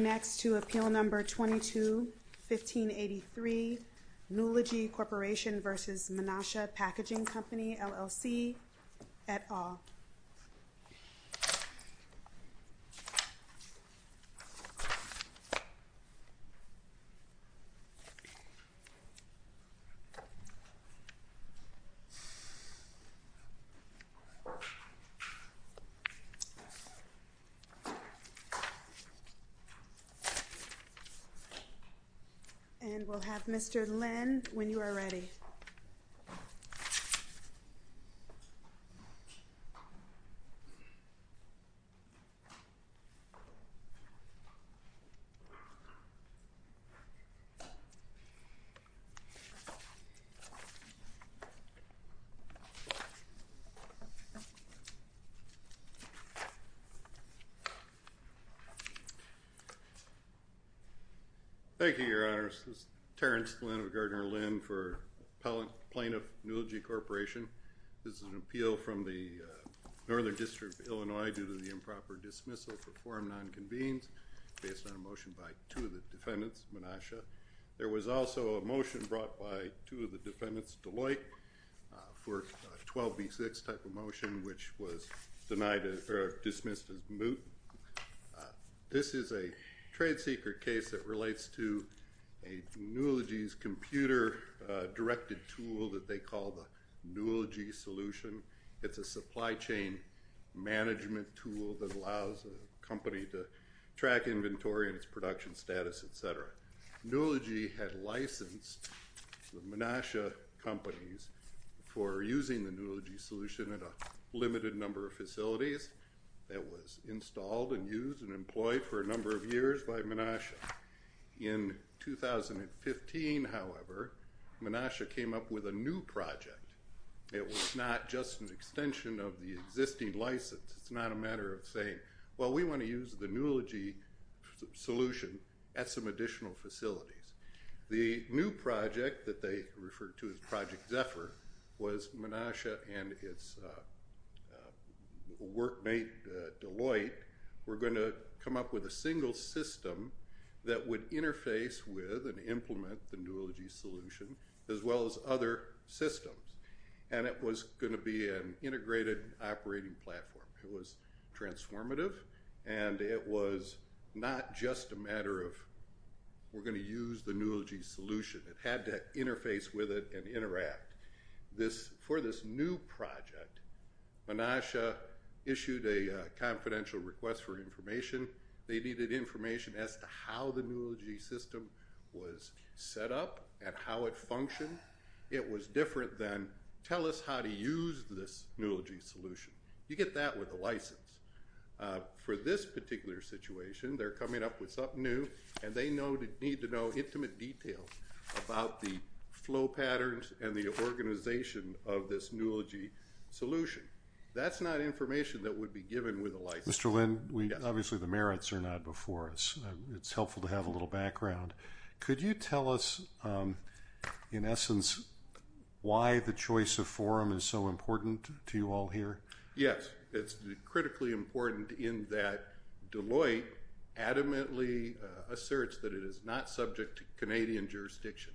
Next to Appeal Number 22-1583, Nulogy Corporation v. Menasha Packaging Company, LLC, et al. And we'll have Mr. Lin when you are ready. Thank you, Your Honors. This is Terrence Lin of Gardner-Lin for Plaintiff Nulogy Corporation. This is an appeal from the Northern District of Illinois due to the improper dismissal for form non-convenes based on a motion by two of the defendants, Menasha. There was also a motion brought by two of the defendants, Deloitte, for a 12B6 type of motion which was dismissed as moot. This is a trade secret case that relates to a Nulogy's computer directed tool that they call the Nulogy Solution. It's a supply chain management tool that allows a company to track inventory and its production status, et cetera. Nulogy had licensed the Menasha companies for using the Nulogy Solution at a limited number of facilities. It was installed and used and employed for a number of years by Menasha. In 2015, however, Menasha came up with a new project. It was not just an extension of the existing license. It's not a matter of saying, well, we want to use the Nulogy Solution at some additional facilities. The new project that they referred to as Project Zephyr was Menasha and its workmate, Deloitte, were going to come up with a single system that would interface with and implement the Nulogy Solution as well as other systems. And it was going to be an integrated operating platform. It was transformative and it was not just a matter of we're going to use the Nulogy Solution. It had to interface with it and interact. For this new project, Menasha issued a confidential request for information. They needed information as to how the Nulogy System was set up and how it functioned. It was different than tell us how to use this Nulogy Solution. You get that with a license. For this particular situation, they're coming up with something new and they need to know intimate details about the flow patterns and the organization of this Nulogy Solution. That's not information that would be given with a license. Mr. Lynn, obviously the merits are not before us. It's helpful to have a little background. Could you tell us, in essence, why the choice of forum is so important to you all here? Yes, it's critically important in that Deloitte adamantly asserts that it is not subject to Canadian jurisdiction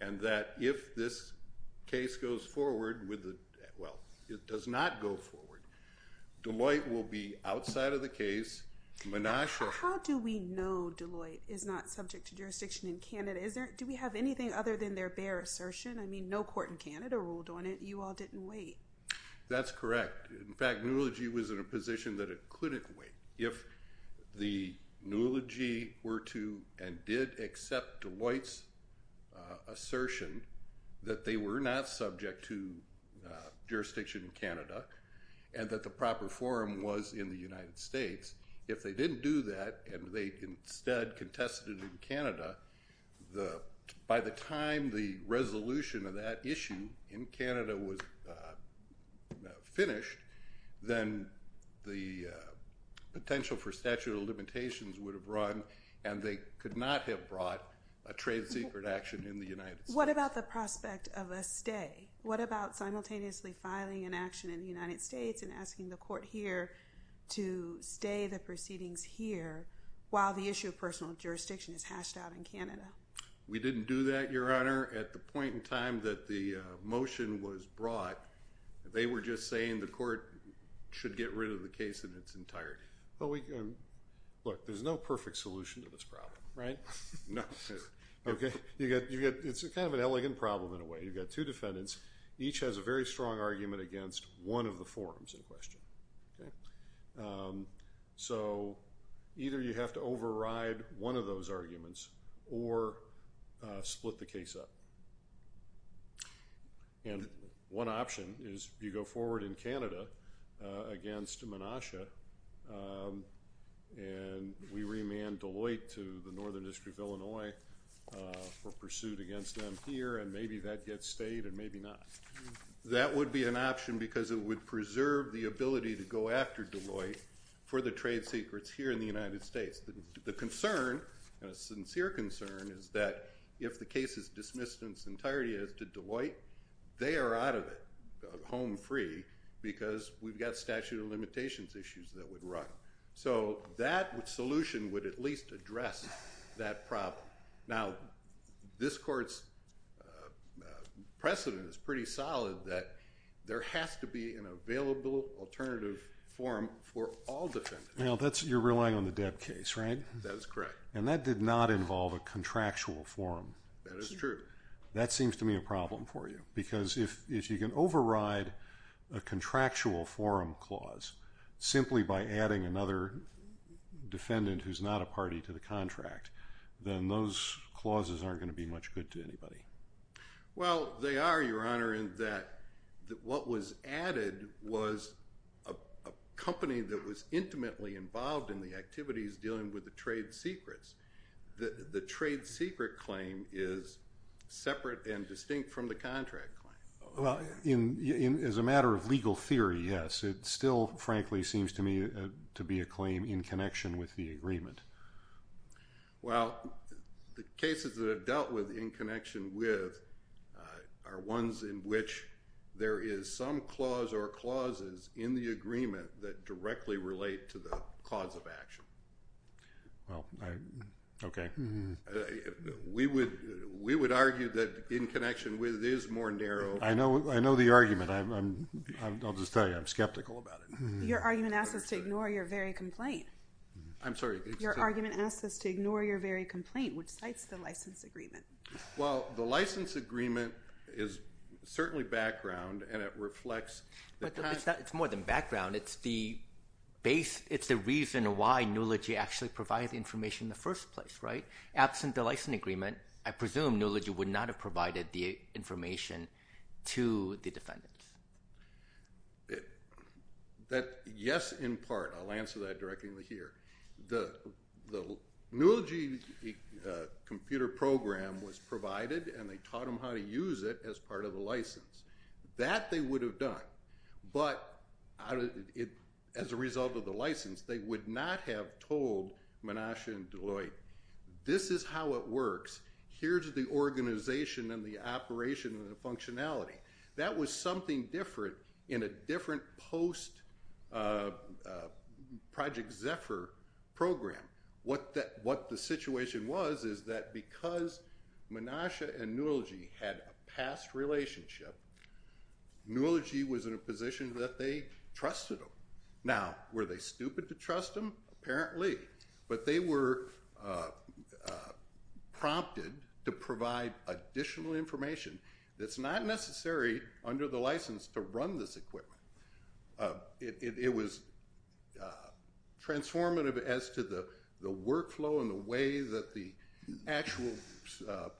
and that if this case goes forward, well, it does not go forward, Deloitte will be outside of the case. How do we know Deloitte is not subject to jurisdiction in Canada? Do we have anything other than their bare assertion? I mean, no court in Canada ruled on it. You all didn't wait. That's correct. In fact, Nulogy was in a position that it couldn't wait. If the Nulogy were to and did accept Deloitte's assertion that they were not subject to jurisdiction in Canada and that the proper forum was in the United States, if they didn't do that and they instead contested in Canada, by the time the resolution of that issue in Canada was finished, then the potential for statute of limitations would have run and they could not have brought a trade secret action in the United States. What about the prospect of a stay? What about simultaneously filing an action in the United States and asking the court here to stay the proceedings here while the issue of personal jurisdiction is hashed out in Canada? We didn't do that, Your Honor. At the point in time that the motion was brought, they were just saying the court should get rid of the case in its entirety. Look, there's no perfect solution to this problem. Right? No. It's kind of an elegant problem in a way. You've got two defendants. Each has a very strong argument against one of the forums in question. Okay? So, either you have to override one of those arguments or split the case up. And one option is you go forward in Canada against Menasha and we remand Deloitte to the Northern District of Illinois for pursuit against them here and maybe that gets stayed and maybe not. That would be an option because it would preserve the ability to go after Deloitte for the trade secrets here in the United States. The concern, a sincere concern, is that if the case is dismissed in its entirety as to Deloitte, they are out of it home free because we've got statute of limitations issues that would run. So, that solution would at least address that problem. Now, this court's precedent is pretty solid that there has to be an available alternative forum for all defendants. Now, you're relying on the Debb case, right? That is correct. And that did not involve a contractual forum. That is true. That seems to me a problem for you because if you can override a contractual forum clause simply by adding another defendant who's not a party to the contract, then those clauses aren't going to be much good to anybody. Well, they are, Your Honor, in that what was added was a company that was intimately involved in the activities dealing with the trade secrets. The trade secret claim is separate and distinct from the contract claim. Well, as a matter of legal theory, yes. It still, frankly, seems to me to be a claim in connection with the agreement. Well, the cases that are dealt with in connection with are ones in which there is some clause or clauses in the agreement that directly relate to the cause of action. Well, okay. We would argue that in connection with it is more narrow. I know the argument. I'll just tell you, I'm skeptical about it. Your argument asks us to ignore your very complaint. I'm sorry. Your argument asks us to ignore your very complaint, which cites the license agreement. Well, the license agreement is certainly background, and it reflects the time... It's more than background. It's the reason why NULOGY actually provided the information in the first place, right? Absent the license agreement, I presume NULOGY would not have provided the information to the defendants. Yes, in part. I'll answer that directly here. The NULOGY computer program was provided, and they taught them how to use it as part of the license. That they would have done, but as a result of the license, they would not have told Menasha and Deloitte, Here's the organization and the operation and the functionality. That was something different in a different post-Project Zephyr program. What the situation was, is that because Menasha and NULOGY had a past relationship, NULOGY was in a position that they trusted them. Now, were they stupid to trust them? Apparently. But they were prompted to provide additional information that's not necessary under the license to run this equipment. It was transformative as to the workflow and the way that the actual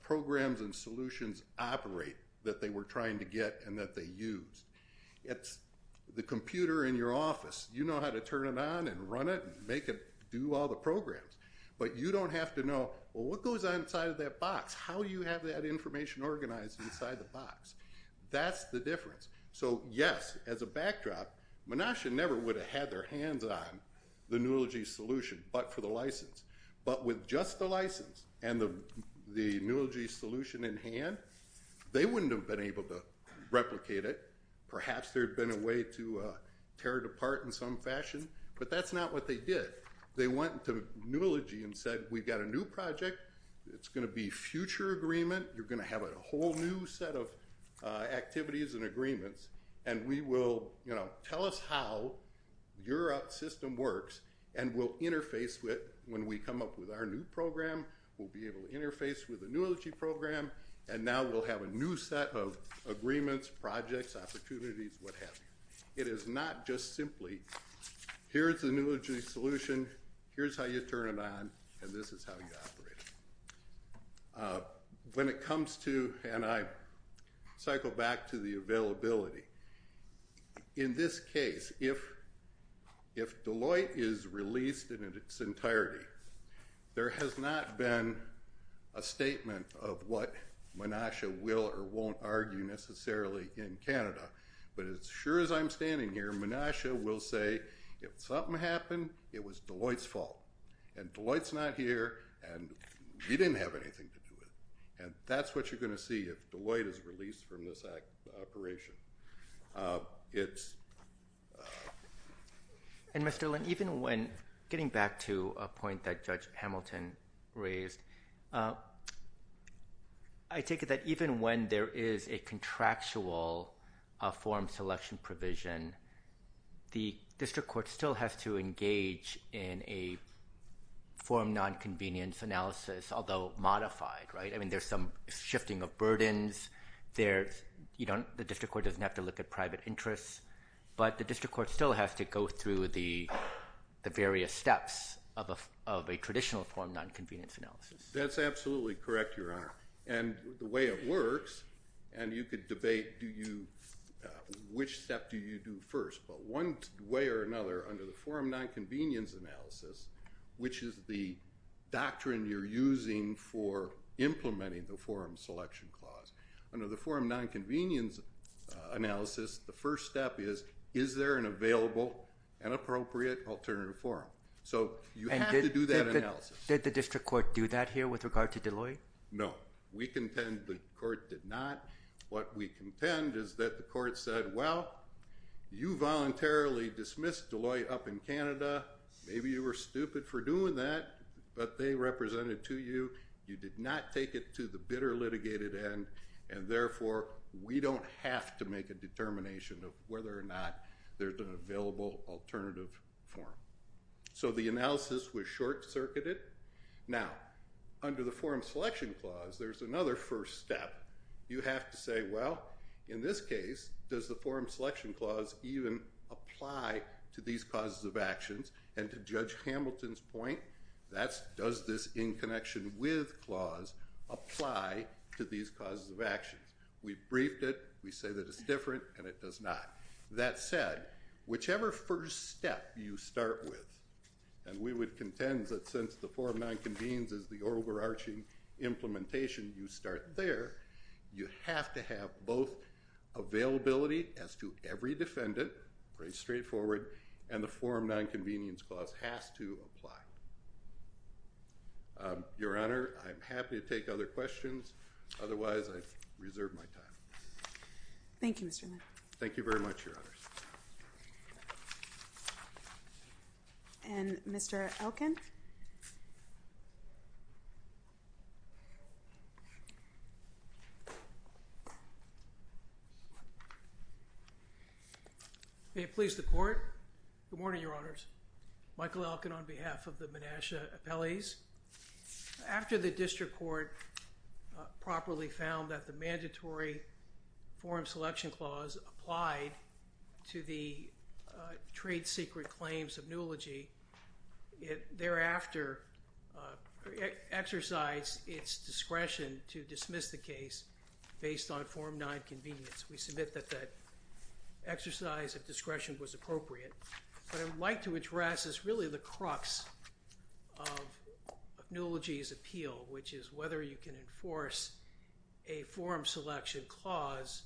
programs and solutions operate that they were trying to get and that they use. It's the computer in your office. You know how to turn it on and run it and make it do all the programs, but you don't have to know what goes on inside of that box. That's how you have that information organized inside the box. That's the difference. So, yes, as a backdrop, Menasha never would have had their hands on the NULOGY solution, but for the license. But with just the license and the NULOGY solution in hand, they wouldn't have been able to replicate it. Perhaps there had been a way to tear it apart in some fashion, but that's not what they did. They went to NULOGY and said, we've got a new project. It's going to be future agreement. You're going to have a whole new set of activities and agreements. And we will, you know, tell us how your system works and we'll interface with when we come up with our new program, we'll be able to interface with the NULOGY program. And now we'll have a new set of agreements, projects, opportunities, what have you. It is not just simply here's the NULOGY solution. Here's how you turn it on and this is how you operate it. When it comes to, and I cycle back to the availability, in this case, if Deloitte is released in its entirety, there has not been a statement of what Menasha will or won't argue necessarily in Canada. But as sure as I'm standing here, Menasha will say, if something happened, it was Deloitte's fault. And Deloitte's not here and we didn't have anything to do with it. And that's what you're going to see if Deloitte is released from this operation. And Mr. Lynn, even when, getting back to a point that Judge Hamilton raised, I take it that even when there is a contractual form selection provision, the district court still has to engage in a form non-convenience analysis, although modified, right? I mean, there's some shifting of burdens. The district court doesn't have to look at private interests. But the district court still has to go through the various steps of a traditional form non-convenience analysis. That's absolutely correct, Your Honor. And the way it works, and you could debate, do you, which step do you do first? But one way or another, under the form non-convenience analysis, which is the doctrine you're using for implementing the form selection clause. Under the form non-convenience analysis, the first step is, is there an available and appropriate alternative form? So you have to do that analysis. Did the district court do that here with regard to Deloitte? No. We contend the court did not. What we contend is that the court said, well, you voluntarily dismissed Deloitte up in Canada. Maybe you were stupid for doing that, but they represented to you. You did not take it to the bitter litigated end. And therefore, we don't have to make a determination of whether or not there's an available alternative form. So the analysis was short-circuited. Now, under the form selection clause, there's another first step. You have to say, well, in this case, does the form selection clause even apply to these causes of actions? And to Judge Hamilton's point, that's, does this in connection with clause apply to these causes of actions? We've briefed it. We say that it's different, and it does not. That said, whichever first step you start with, and we would contend that since the form nonconvenience is the overarching implementation, you start there, you have to have both availability as to every defendant, pretty straightforward, and the form nonconvenience clause has to apply. Your Honor, I'm happy to take other questions. Otherwise, I reserve my time. Thank you, Mr. Lind. Thank you very much, Your Honors. And Mr. Elkin? May it please the Court. Good morning, Your Honors. Michael Elkin on behalf of the Menasha Appellees. After the district court properly found that the mandatory form selection clause applied to the trade secret claims of Newelogy, it thereafter exercised its discretion to dismiss the case based on form nonconvenience. We submit that that exercise of discretion was appropriate. What I would like to address is really the crux of Newelogy's appeal, which is whether you can enforce a form selection clause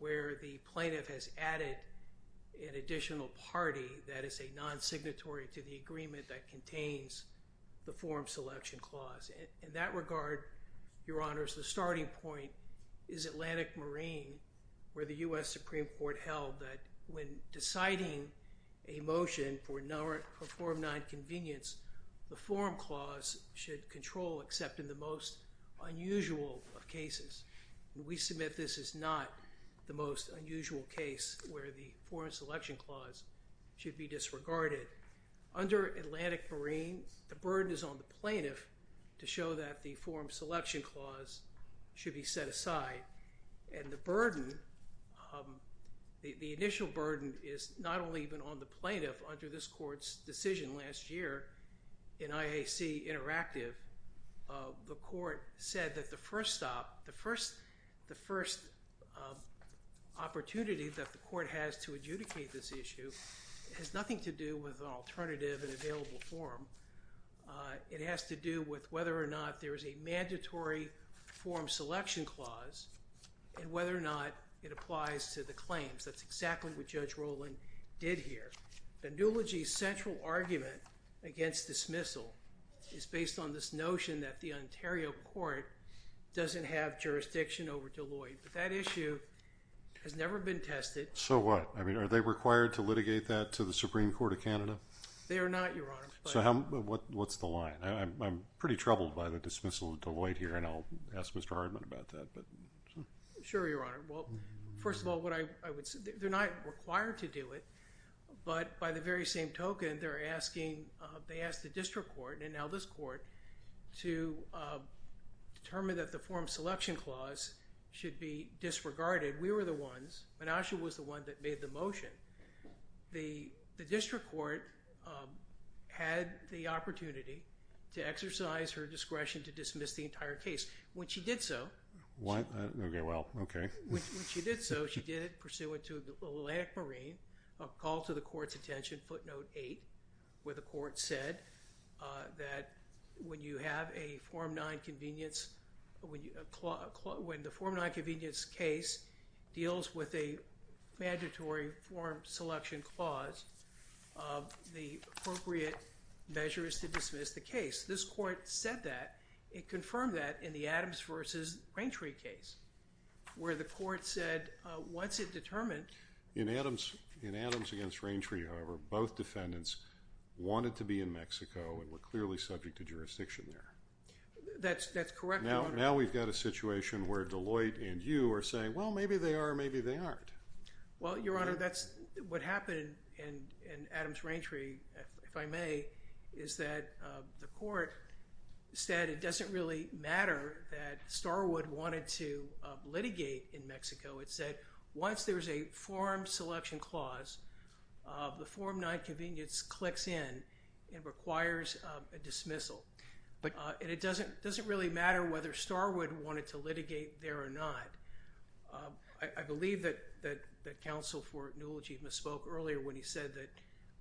where the plaintiff has added an additional party that is a non-signatory to the agreement that contains the form selection clause. In that regard, Your Honors, the starting point is Atlantic Marine, where the US Supreme Court held that when deciding a motion for form nonconvenience, the form clause should control except in the most unusual of cases. We submit this is not the most unusual case where the form selection clause should be disregarded. Under Atlantic Marine, the burden is on the plaintiff to show that the form selection clause should be set aside. And the burden, the initial burden, is not only even on the plaintiff. Under this court's decision last year in IAC Interactive, the court said that the first stop, the first opportunity that the court has to adjudicate this issue has nothing to do with an alternative and available form. It has to do with whether or not there is a mandatory form selection clause and whether or not it applies to the claims. That's exactly what Judge Rowland did here. The Newelogy's central argument against dismissal is based on this notion that the Ontario court doesn't have jurisdiction over Deloitte. But that issue has never been tested. So what? Are they required to litigate that to the Supreme Court of Canada? They are not, Your Honor. So what's the line? I'm pretty troubled by the dismissal of Deloitte here. And I'll ask Mr. Hardman about that. Sure, Your Honor. Well, first of all, they're not required to do it. But by the very same token, they asked the district court and now this court to determine that the form selection clause should be disregarded. We were the ones. Menasha was the one that made the motion. The district court had the opportunity to exercise her discretion to dismiss the entire case. When she did so, she did it pursuant to an Atlantic Marine, a call to the court's attention, footnote eight, where the court said that when you have a Form 9 convenience, when the Form 9 convenience case deals with a mandatory form selection clause, the appropriate measure is to dismiss the case. This court said that. It confirmed that in the Adams versus Raintree case, where the court said, what's it determined? In Adams against Raintree, however, both defendants wanted to be in Mexico and were clearly subject to jurisdiction there. That's correct, Your Honor. Now we've got a situation where Deloitte and you are saying, well, maybe they are, maybe they aren't. Well, Your Honor, that's what happened in Adams-Raintree, if I may, is that the court said it doesn't really matter that Starwood wanted to litigate in Mexico. It said once there is a form selection clause, the Form 9 convenience clicks in and requires a dismissal. But it doesn't really matter whether Starwood wanted to litigate there or not. I believe that counsel for Newell-Chief spoke earlier when he said that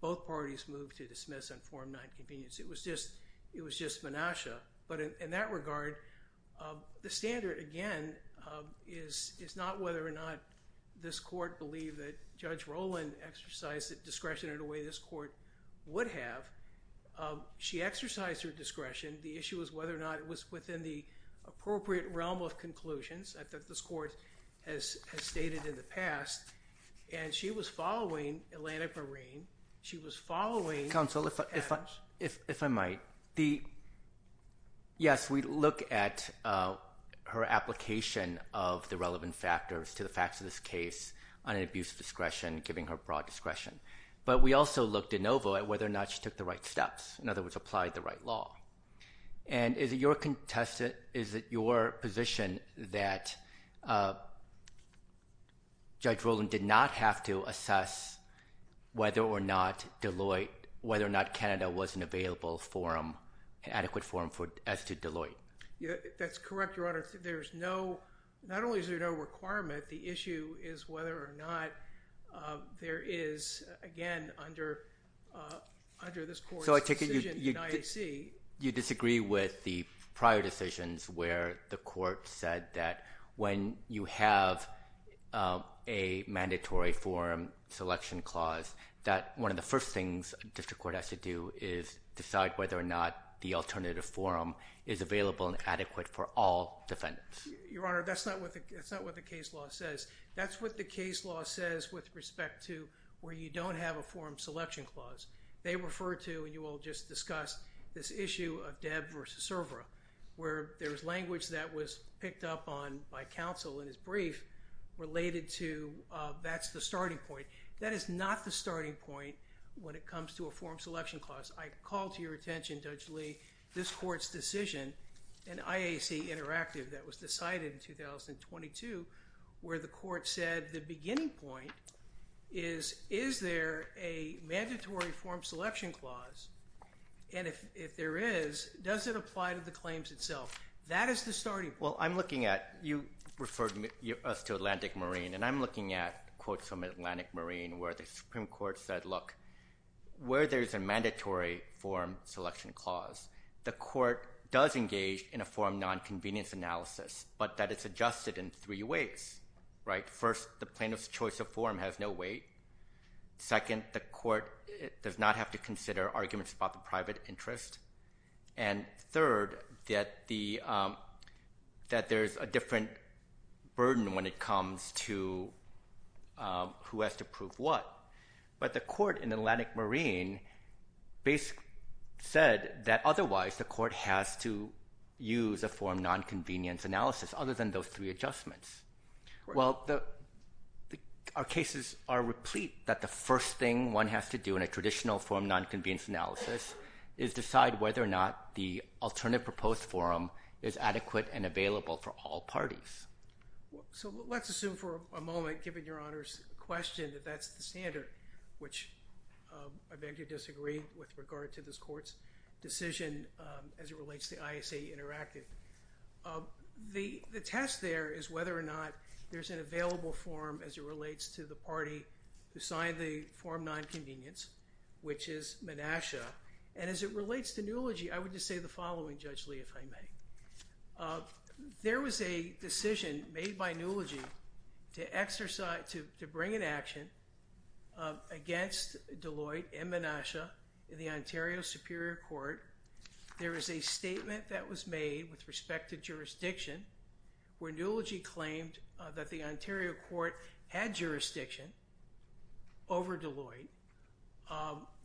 both parties moved to dismiss on Form 9 convenience. It was just menace. But in that regard, the standard, again, is not whether or not this court believed that Judge Rowland exercised discretion in a way this court would have. She exercised her discretion. The issue is whether or not it was within the appropriate realm of conclusions that this court has stated in the past. And she was following Atlantic Marine. She was following Adams. Counsel, if I might, yes, we look at her application of the relevant factors to the facts of this case on an abuse of discretion, giving her broad discretion. But we also looked in OVO at whether or not she took the right steps, in other words, applied the right law. And is it your position that Judge Rowland did not have to assess whether or not Deloitte, whether or not Canada was an adequate forum as to Deloitte? That's correct, Your Honor. There's no, not only is there no requirement, the issue is whether or not there is, again, under this court's decision in the IAC. So I take it you disagree with the prior decisions where the court said that when you have a mandatory forum selection clause, that one of the first things a district court has to do is decide whether or not the alternative forum is available and adequate for all defendants. Your Honor, that's not what the case law says. That's what the case law says with respect to where you don't have a forum selection clause. They refer to, and you all just discussed, this issue of Debb versus Cervera, where there was language that was picked up on by counsel in his brief related to that's the starting point. That is not the starting point when it comes to a forum selection clause. I call to your attention, Judge Lee, this court's decision in IAC Interactive that was decided in 2022, where the court said the beginning point is, is there a mandatory forum selection clause? And if there is, does it apply to the claims itself? That is the starting point. Well, I'm looking at, you referred us to Atlantic Marine, and I'm looking at quotes from Atlantic Marine where the Supreme Court said, look, where there is a mandatory forum selection clause, the court does engage in a forum nonconvenience analysis, but that it's adjusted in three ways. First, the plaintiff's choice of forum has no weight. Second, the court does not have to consider arguments about the private interest. And third, that there is a different burden when it comes to who has to prove what. But the court in Atlantic Marine basically said that otherwise the court has to use a forum nonconvenience analysis, other than those three adjustments. Well, our cases are replete that the first thing one has to do in a traditional forum nonconvenience analysis is decide whether or not the alternative proposed forum is adequate and available for all parties. So let's assume for a moment, given your Honor's question, that that's the standard, which I beg to disagree with regard to this court's decision as it relates to ISA Interactive. The test there is whether or not there's an available forum as it relates to the party who signed the forum nonconvenience, which is Menasha. And as it relates to Newelogy, I would just say the following, Judge Lee, if I may. There was a decision made by Newelogy to bring an action against Deloitte and Menasha in the Ontario Superior Court. There is a statement that was made with respect to jurisdiction where Newelogy claimed that the Ontario Court had jurisdiction over Deloitte.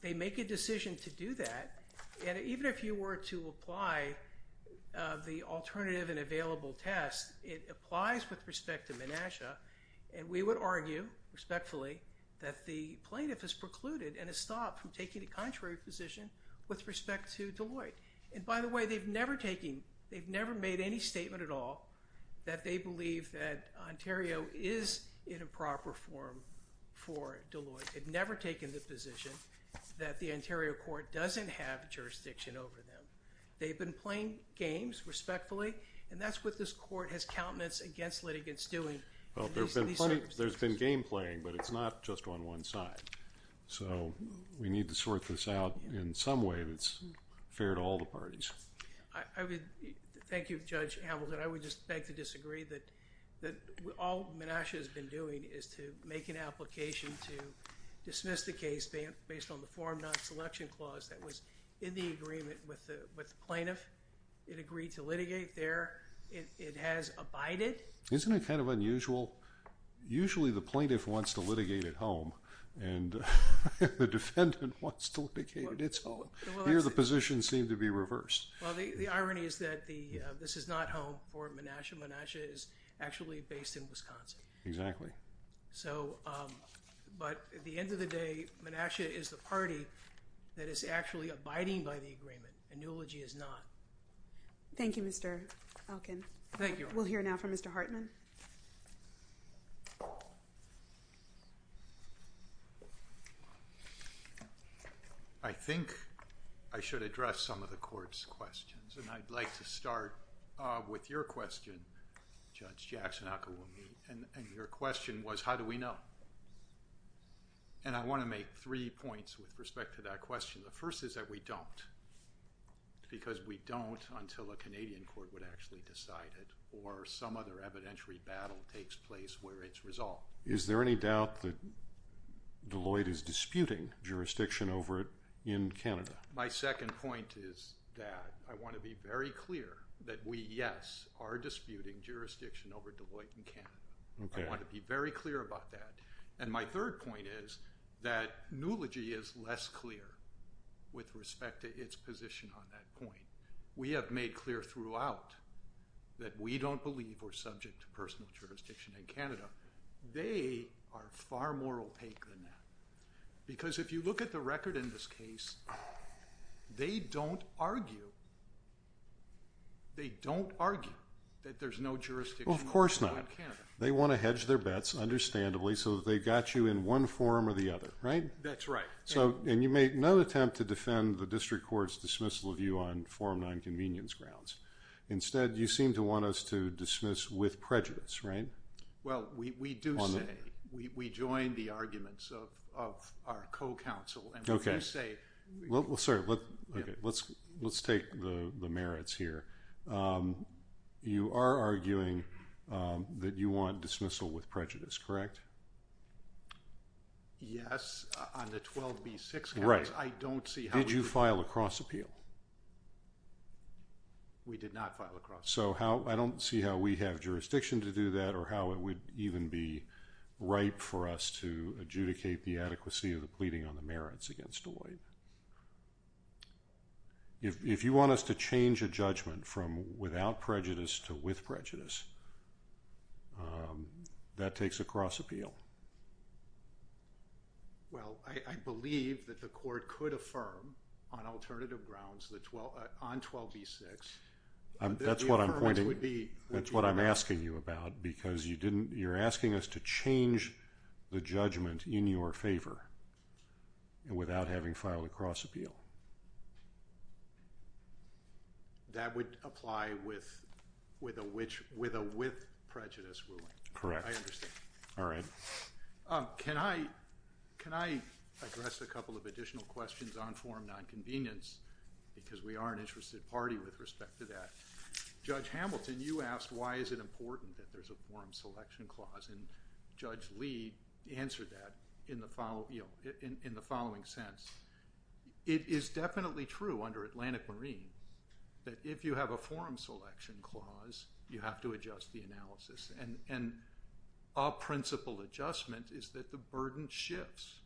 They make a decision to do that. And even if you were to apply the alternative and available test, it applies with respect to Menasha. And we would argue, respectfully, that the plaintiff has precluded and has stopped from taking a contrary position with respect to Deloitte. And by the way, they've never taken, they've never made any statement at all that they believe that Ontario is in a proper forum for Deloitte. They've never taken the position that the Ontario Court doesn't have jurisdiction over them. They've been playing games, respectfully. And that's what this court has countenance against litigants doing. There's been game playing, but it's not just on one side. So we need to sort this out in some way that's fair to all the parties. Thank you, Judge Hamilton. I would just beg to disagree that all Menasha has been doing is to make an application to dismiss the case based on the forum non-selection clause that was in the agreement with the plaintiff. It agreed to litigate there. It has abided. Isn't it kind of unusual? Usually, the plaintiff wants to litigate at home, and the defendant wants to litigate at its home. Here, the positions seem to be reversed. Well, the irony is that this is not home for Menasha. Menasha is actually based in Wisconsin. Exactly. But at the end of the day, Menasha is the party that is actually abiding by the agreement, and Newelogy is not. Thank you, Mr. Elkin. Thank you. We'll hear now from Mr. Hartman. I think I should address some of the court's questions, and I'd like to start with your question, Judge Jackson. And your question was, how do we know? And I want to make three points with respect to that question. The first is that we don't, because we don't until a Canadian court would actually decide it, or some other evidentiary battle takes place where it's resolved. Is there any doubt that Deloitte is disputing jurisdiction over it in Canada? My second point is that I want to be very clear that we, yes, are disputing jurisdiction over Deloitte in Canada. I want to be very clear about that. And my third point is that Newelogy is less clear with respect to its position on that point. We have made clear throughout that we don't believe we're subject to personal jurisdiction in Canada. They are far more opaque than that. Because if you look at the record in this case, they don't argue that there's no jurisdiction in Canada. Well, of course not. They want to hedge their bets, understandably, so that they've got you in one forum or the other, right? That's right. And you make no attempt to defend the district court's dismissal of you on forum nonconvenience grounds. Instead, you seem to want us to dismiss with prejudice, right? Well, we do say. We join the arguments of our co-counsel. OK. And we say. Well, sir, let's take the merits here. You are arguing that you want dismissal with prejudice, correct? Yes. On the 12B6 case, I don't see how we could do that. We filed a cross appeal. We did not file a cross appeal. So I don't see how we have jurisdiction to do that or how it would even be right for us to adjudicate the adequacy of the pleading on the merits against Deloitte. If you want us to change a judgment from without prejudice to with prejudice, that takes a cross appeal. Well, I believe that the court could affirm on alternative grounds on 12B6. That's what I'm pointing. That's what I'm asking you about because you didn't, you're asking us to change the judgment in your favor and without having filed a cross appeal. That would apply with a with prejudice ruling. Correct. I understand. All right. Can I address a couple of additional questions on forum nonconvenience because we are an interested party with respect to that. Judge Hamilton, you asked why is it important that there's a forum selection clause. And Judge Lee answered that in the following sense. It is definitely true under Atlantic Marine that if you have a forum selection clause, you have to adjust the analysis. And a principle adjustment is that the burden shifts.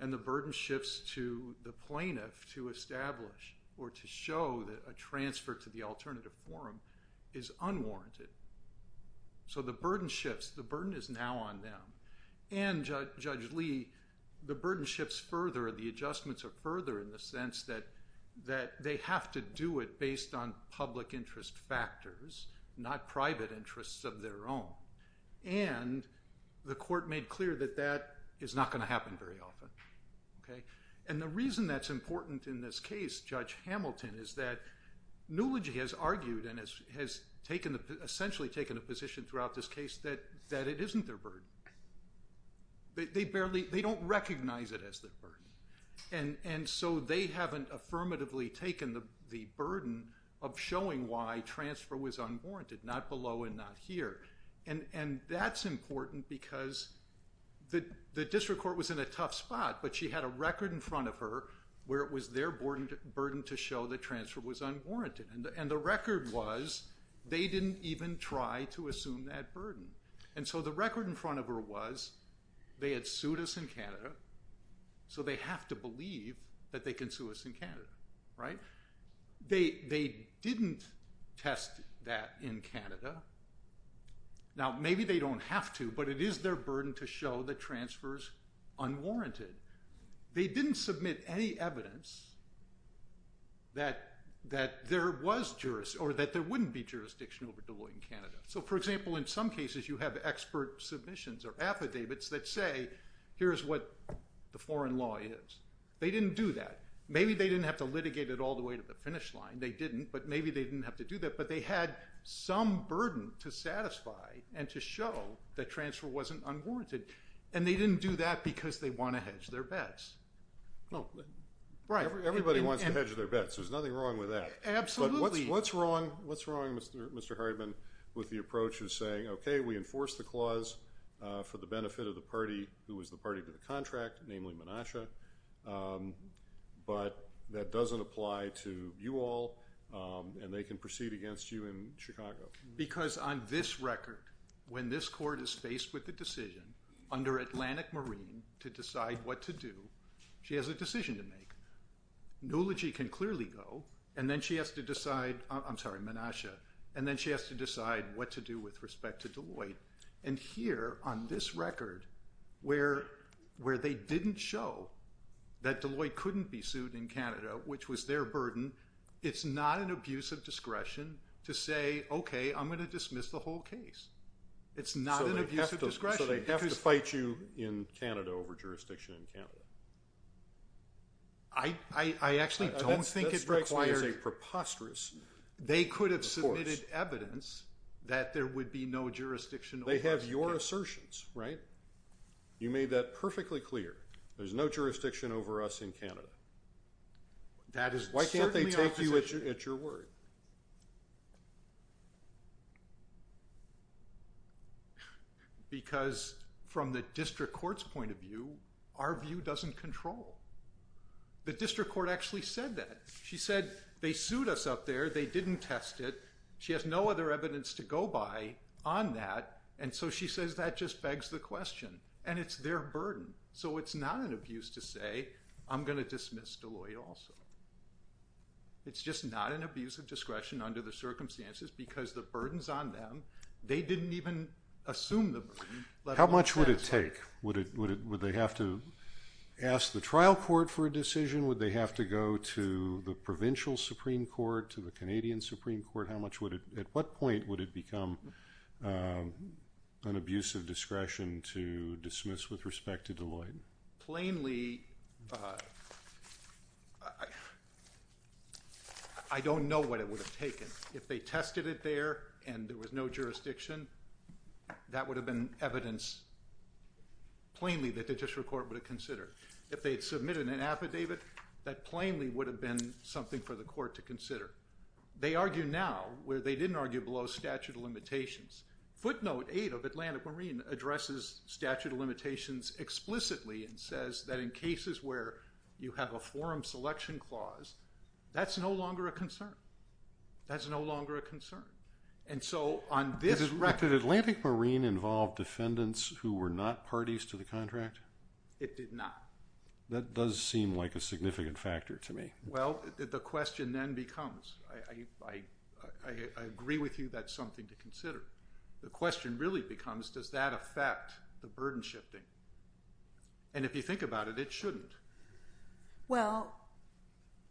And the burden shifts to the plaintiff to establish or to show that a transfer to the alternative forum is unwarranted. So the burden shifts. The burden is now on them. And, Judge Lee, the burden shifts further. The adjustments are further in the sense that they have to do it based on public interest factors, not private interests of their own. And the court made clear that that is not going to happen very often. And the reason that's important in this case, Judge Hamilton, is that Nulogy has argued and has essentially taken a position throughout this case that it isn't their burden. They don't recognize it as their burden. And so they haven't affirmatively taken the burden of showing why transfer was unwarranted, not below and not here. And that's important because the district court was in a tough spot, but she had a record in front of her where it was their burden to show that transfer was unwarranted. And the record was they didn't even try to assume that burden. And so the record in front of her was they had sued us in Canada, so they have to believe that they can sue us in Canada, right? They didn't test that in Canada. Now, maybe they don't have to, but it is their burden to show that transfer is unwarranted. They didn't submit any evidence that there was jurisdiction or that there wouldn't be jurisdiction over Deloitte in Canada. So, for example, in some cases you have expert submissions or affidavits that say, here's what the foreign law is. They didn't do that. Maybe they didn't have to litigate it all the way to the finish line. They didn't, but maybe they didn't have to do that. But they had some burden to satisfy and to show that transfer wasn't unwarranted, and they didn't do that because they want to hedge their bets. Everybody wants to hedge their bets. There's nothing wrong with that. Absolutely. But what's wrong, Mr. Hardeman, with the approach of saying, okay, we enforce the clause for the benefit of the party who is the party to the contract, namely Menasha, but that doesn't apply to you all and they can proceed against you in Chicago? Because on this record, when this court is faced with the decision under Atlantic Marine to decide what to do, she has a decision to make. Nulogy can clearly go, and then she has to decide – I'm sorry, Menasha – and then she has to decide what to do with respect to Deloitte. And here, on this record, where they didn't show that Deloitte couldn't be sued in Canada, which was their burden, it's not an abuse of discretion to say, okay, I'm going to dismiss the whole case. It's not an abuse of discretion. So they have to fight you in Canada over jurisdiction in Canada? I actually don't think it required – That strikes me as a preposterous – They could have submitted evidence that there would be no jurisdiction over us in Canada. They have your assertions, right? You made that perfectly clear. There's no jurisdiction over us in Canada. Why can't they take you at your word? Because from the district court's point of view, our view doesn't control. The district court actually said that. She said they sued us up there. They didn't test it. She has no other evidence to go by on that, and so she says that just begs the question. And it's their burden. So it's not an abuse to say, I'm going to dismiss Deloitte also. It's just not an abuse of discretion under the circumstances because the burden's on them. They didn't even assume the burden. How much would it take? Would they have to ask the trial court for a decision? Would they have to go to the provincial Supreme Court, to the Canadian Supreme Court? At what point would it become an abuse of discretion to dismiss with respect to Deloitte? Plainly, I don't know what it would have taken. If they tested it there and there was no jurisdiction, that would have been evidence plainly that the district court would have considered. If they had submitted an affidavit, that plainly would have been something for the court to consider. They argue now where they didn't argue below statute of limitations. Footnote 8 of Atlantic Marine addresses statute of limitations explicitly and says that in cases where you have a forum selection clause, that's no longer a concern. That's no longer a concern. And so on this record- Did Atlantic Marine involve defendants who were not parties to the contract? It did not. That does seem like a significant factor to me. Well, the question then becomes- I agree with you that's something to consider. The question really becomes does that affect the burden shifting? And if you think about it, it shouldn't. Well,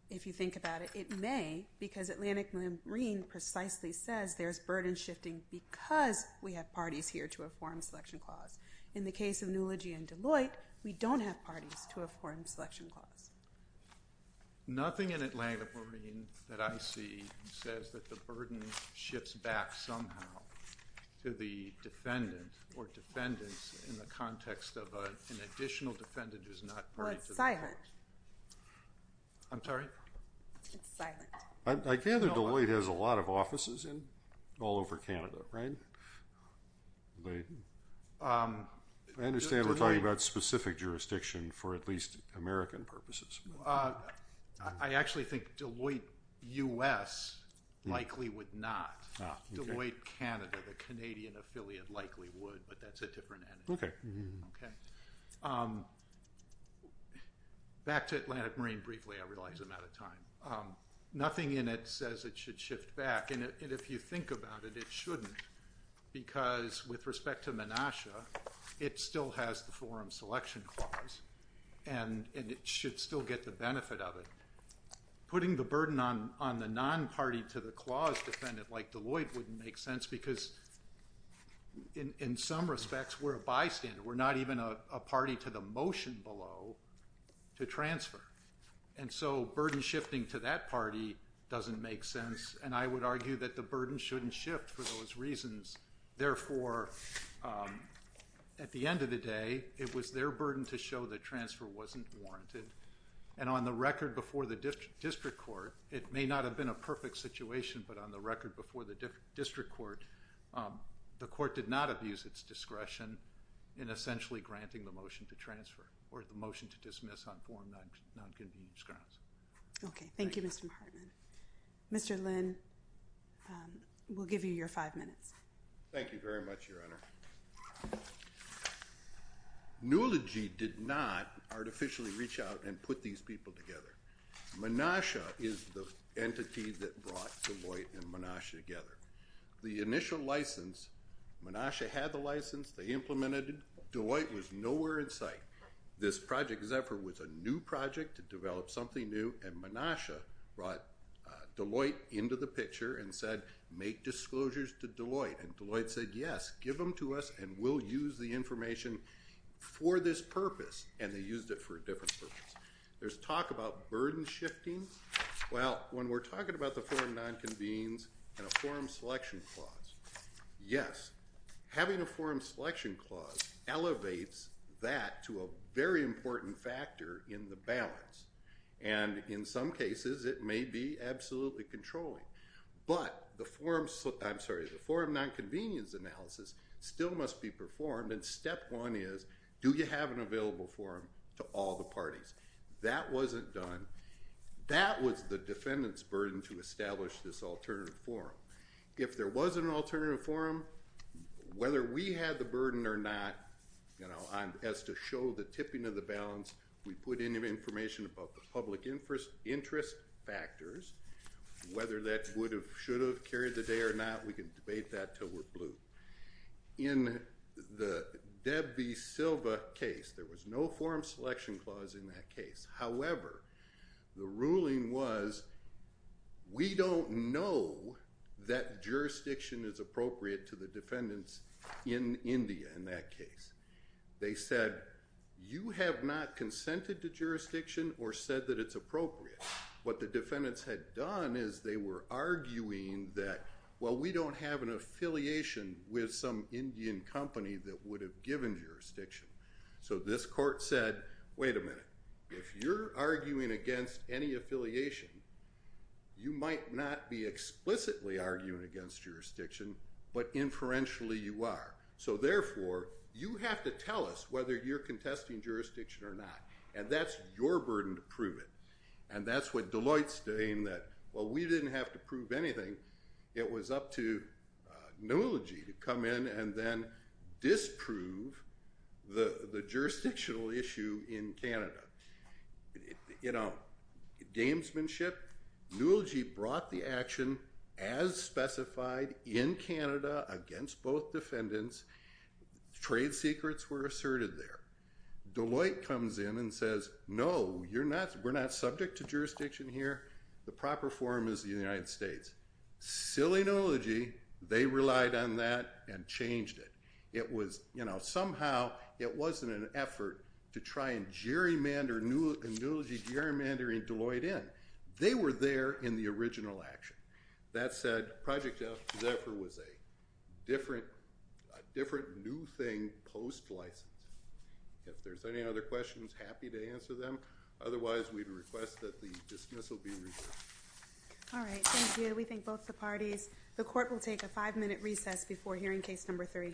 if you think about it, it may, because Atlantic Marine precisely says there's burden shifting because we have parties here to a forum selection clause. In the case of Nulogy and Deloitte, we don't have parties to a forum selection clause. Nothing in Atlantic Marine that I see says that the burden shifts back somehow to the defendant or defendants in the context of an additional defendant who's not parties to the contract. Well, it's silent. I'm sorry? It's silent. I gather Deloitte has a lot of offices all over Canada, right? I understand we're talking about specific jurisdiction for at least American purposes. I actually think Deloitte U.S. likely would not. Deloitte Canada, the Canadian affiliate, likely would, but that's a different entity. Back to Atlantic Marine briefly. I realize I'm out of time. Nothing in it says it should shift back, and if you think about it, it shouldn't, because with respect to Menasha, it still has the forum selection clause, and it should still get the benefit of it. Putting the burden on the non-party to the clause defendant like Deloitte wouldn't make sense, because in some respects, we're a bystander. We're not even a party to the motion below to transfer, and so burden shifting to that party doesn't make sense, and I would argue that the burden shouldn't shift for those reasons. Therefore, at the end of the day, it was their burden to show that transfer wasn't warranted, and on the record before the district court, it may not have been a perfect situation, but on the record before the district court, the court did not abuse its discretion in essentially granting the motion to transfer or the motion to dismiss on foreign nonconvenience grounds. Okay. Thank you, Mr. Hartman. Mr. Lynn, we'll give you your five minutes. Thank you very much, Your Honor. Newelogy did not artificially reach out and put these people together. Menasha is the entity that brought Deloitte and Menasha together. The initial license, Menasha had the license. They implemented it. Deloitte was nowhere in sight. This project's effort was a new project to develop something new, and Menasha brought Deloitte into the picture and said, make disclosures to Deloitte, and Deloitte said, yes, give them to us, and we'll use the information for this purpose, and they used it for a different purpose. There's talk about burden shifting. Well, when we're talking about the foreign nonconvenience and a foreign selection clause, yes, having a foreign selection clause elevates that to a very important factor in the balance, and in some cases, it may be absolutely controlling, but the forum nonconvenience analysis still must be performed, and step one is, do you have an available forum to all the parties? That wasn't done. That was the defendant's burden to establish this alternative forum. If there wasn't an alternative forum, whether we had the burden or not as to show the tipping of the balance, we put in information about the public interest factors, whether that should have carried the day or not, we can debate that until we're blue. In the Deb B. Silva case, there was no forum selection clause in that case. However, the ruling was, we don't know that jurisdiction is appropriate to the defendants in India in that case. They said, you have not consented to jurisdiction or said that it's appropriate. What the defendants had done is they were arguing that, well, we don't have an affiliation with some Indian company that would have given jurisdiction. So this court said, wait a minute. If you're arguing against any affiliation, you might not be explicitly arguing against jurisdiction, but inferentially you are. So therefore, you have to tell us whether you're contesting jurisdiction or not, and that's your burden to prove it. And that's what Deloitte's doing, that while we didn't have to prove anything, it was up to Noology to come in and then disprove the jurisdictional issue in Canada. You know, gamesmanship, Noology brought the action as specified in Canada against both defendants. Trade secrets were asserted there. Deloitte comes in and says, no, we're not subject to jurisdiction here. The proper form is the United States. Silly Noology, they relied on that and changed it. It was, you know, somehow it wasn't an effort to try and gerrymander Noology gerrymandering Deloitte in. They were there in the original action. That said, Project Zephyr was a different new thing post-license. If there's any other questions, happy to answer them. Otherwise, we'd request that the dismissal be reversed. All right, thank you. We thank both the parties. The court will take a five-minute recess before hearing case number three.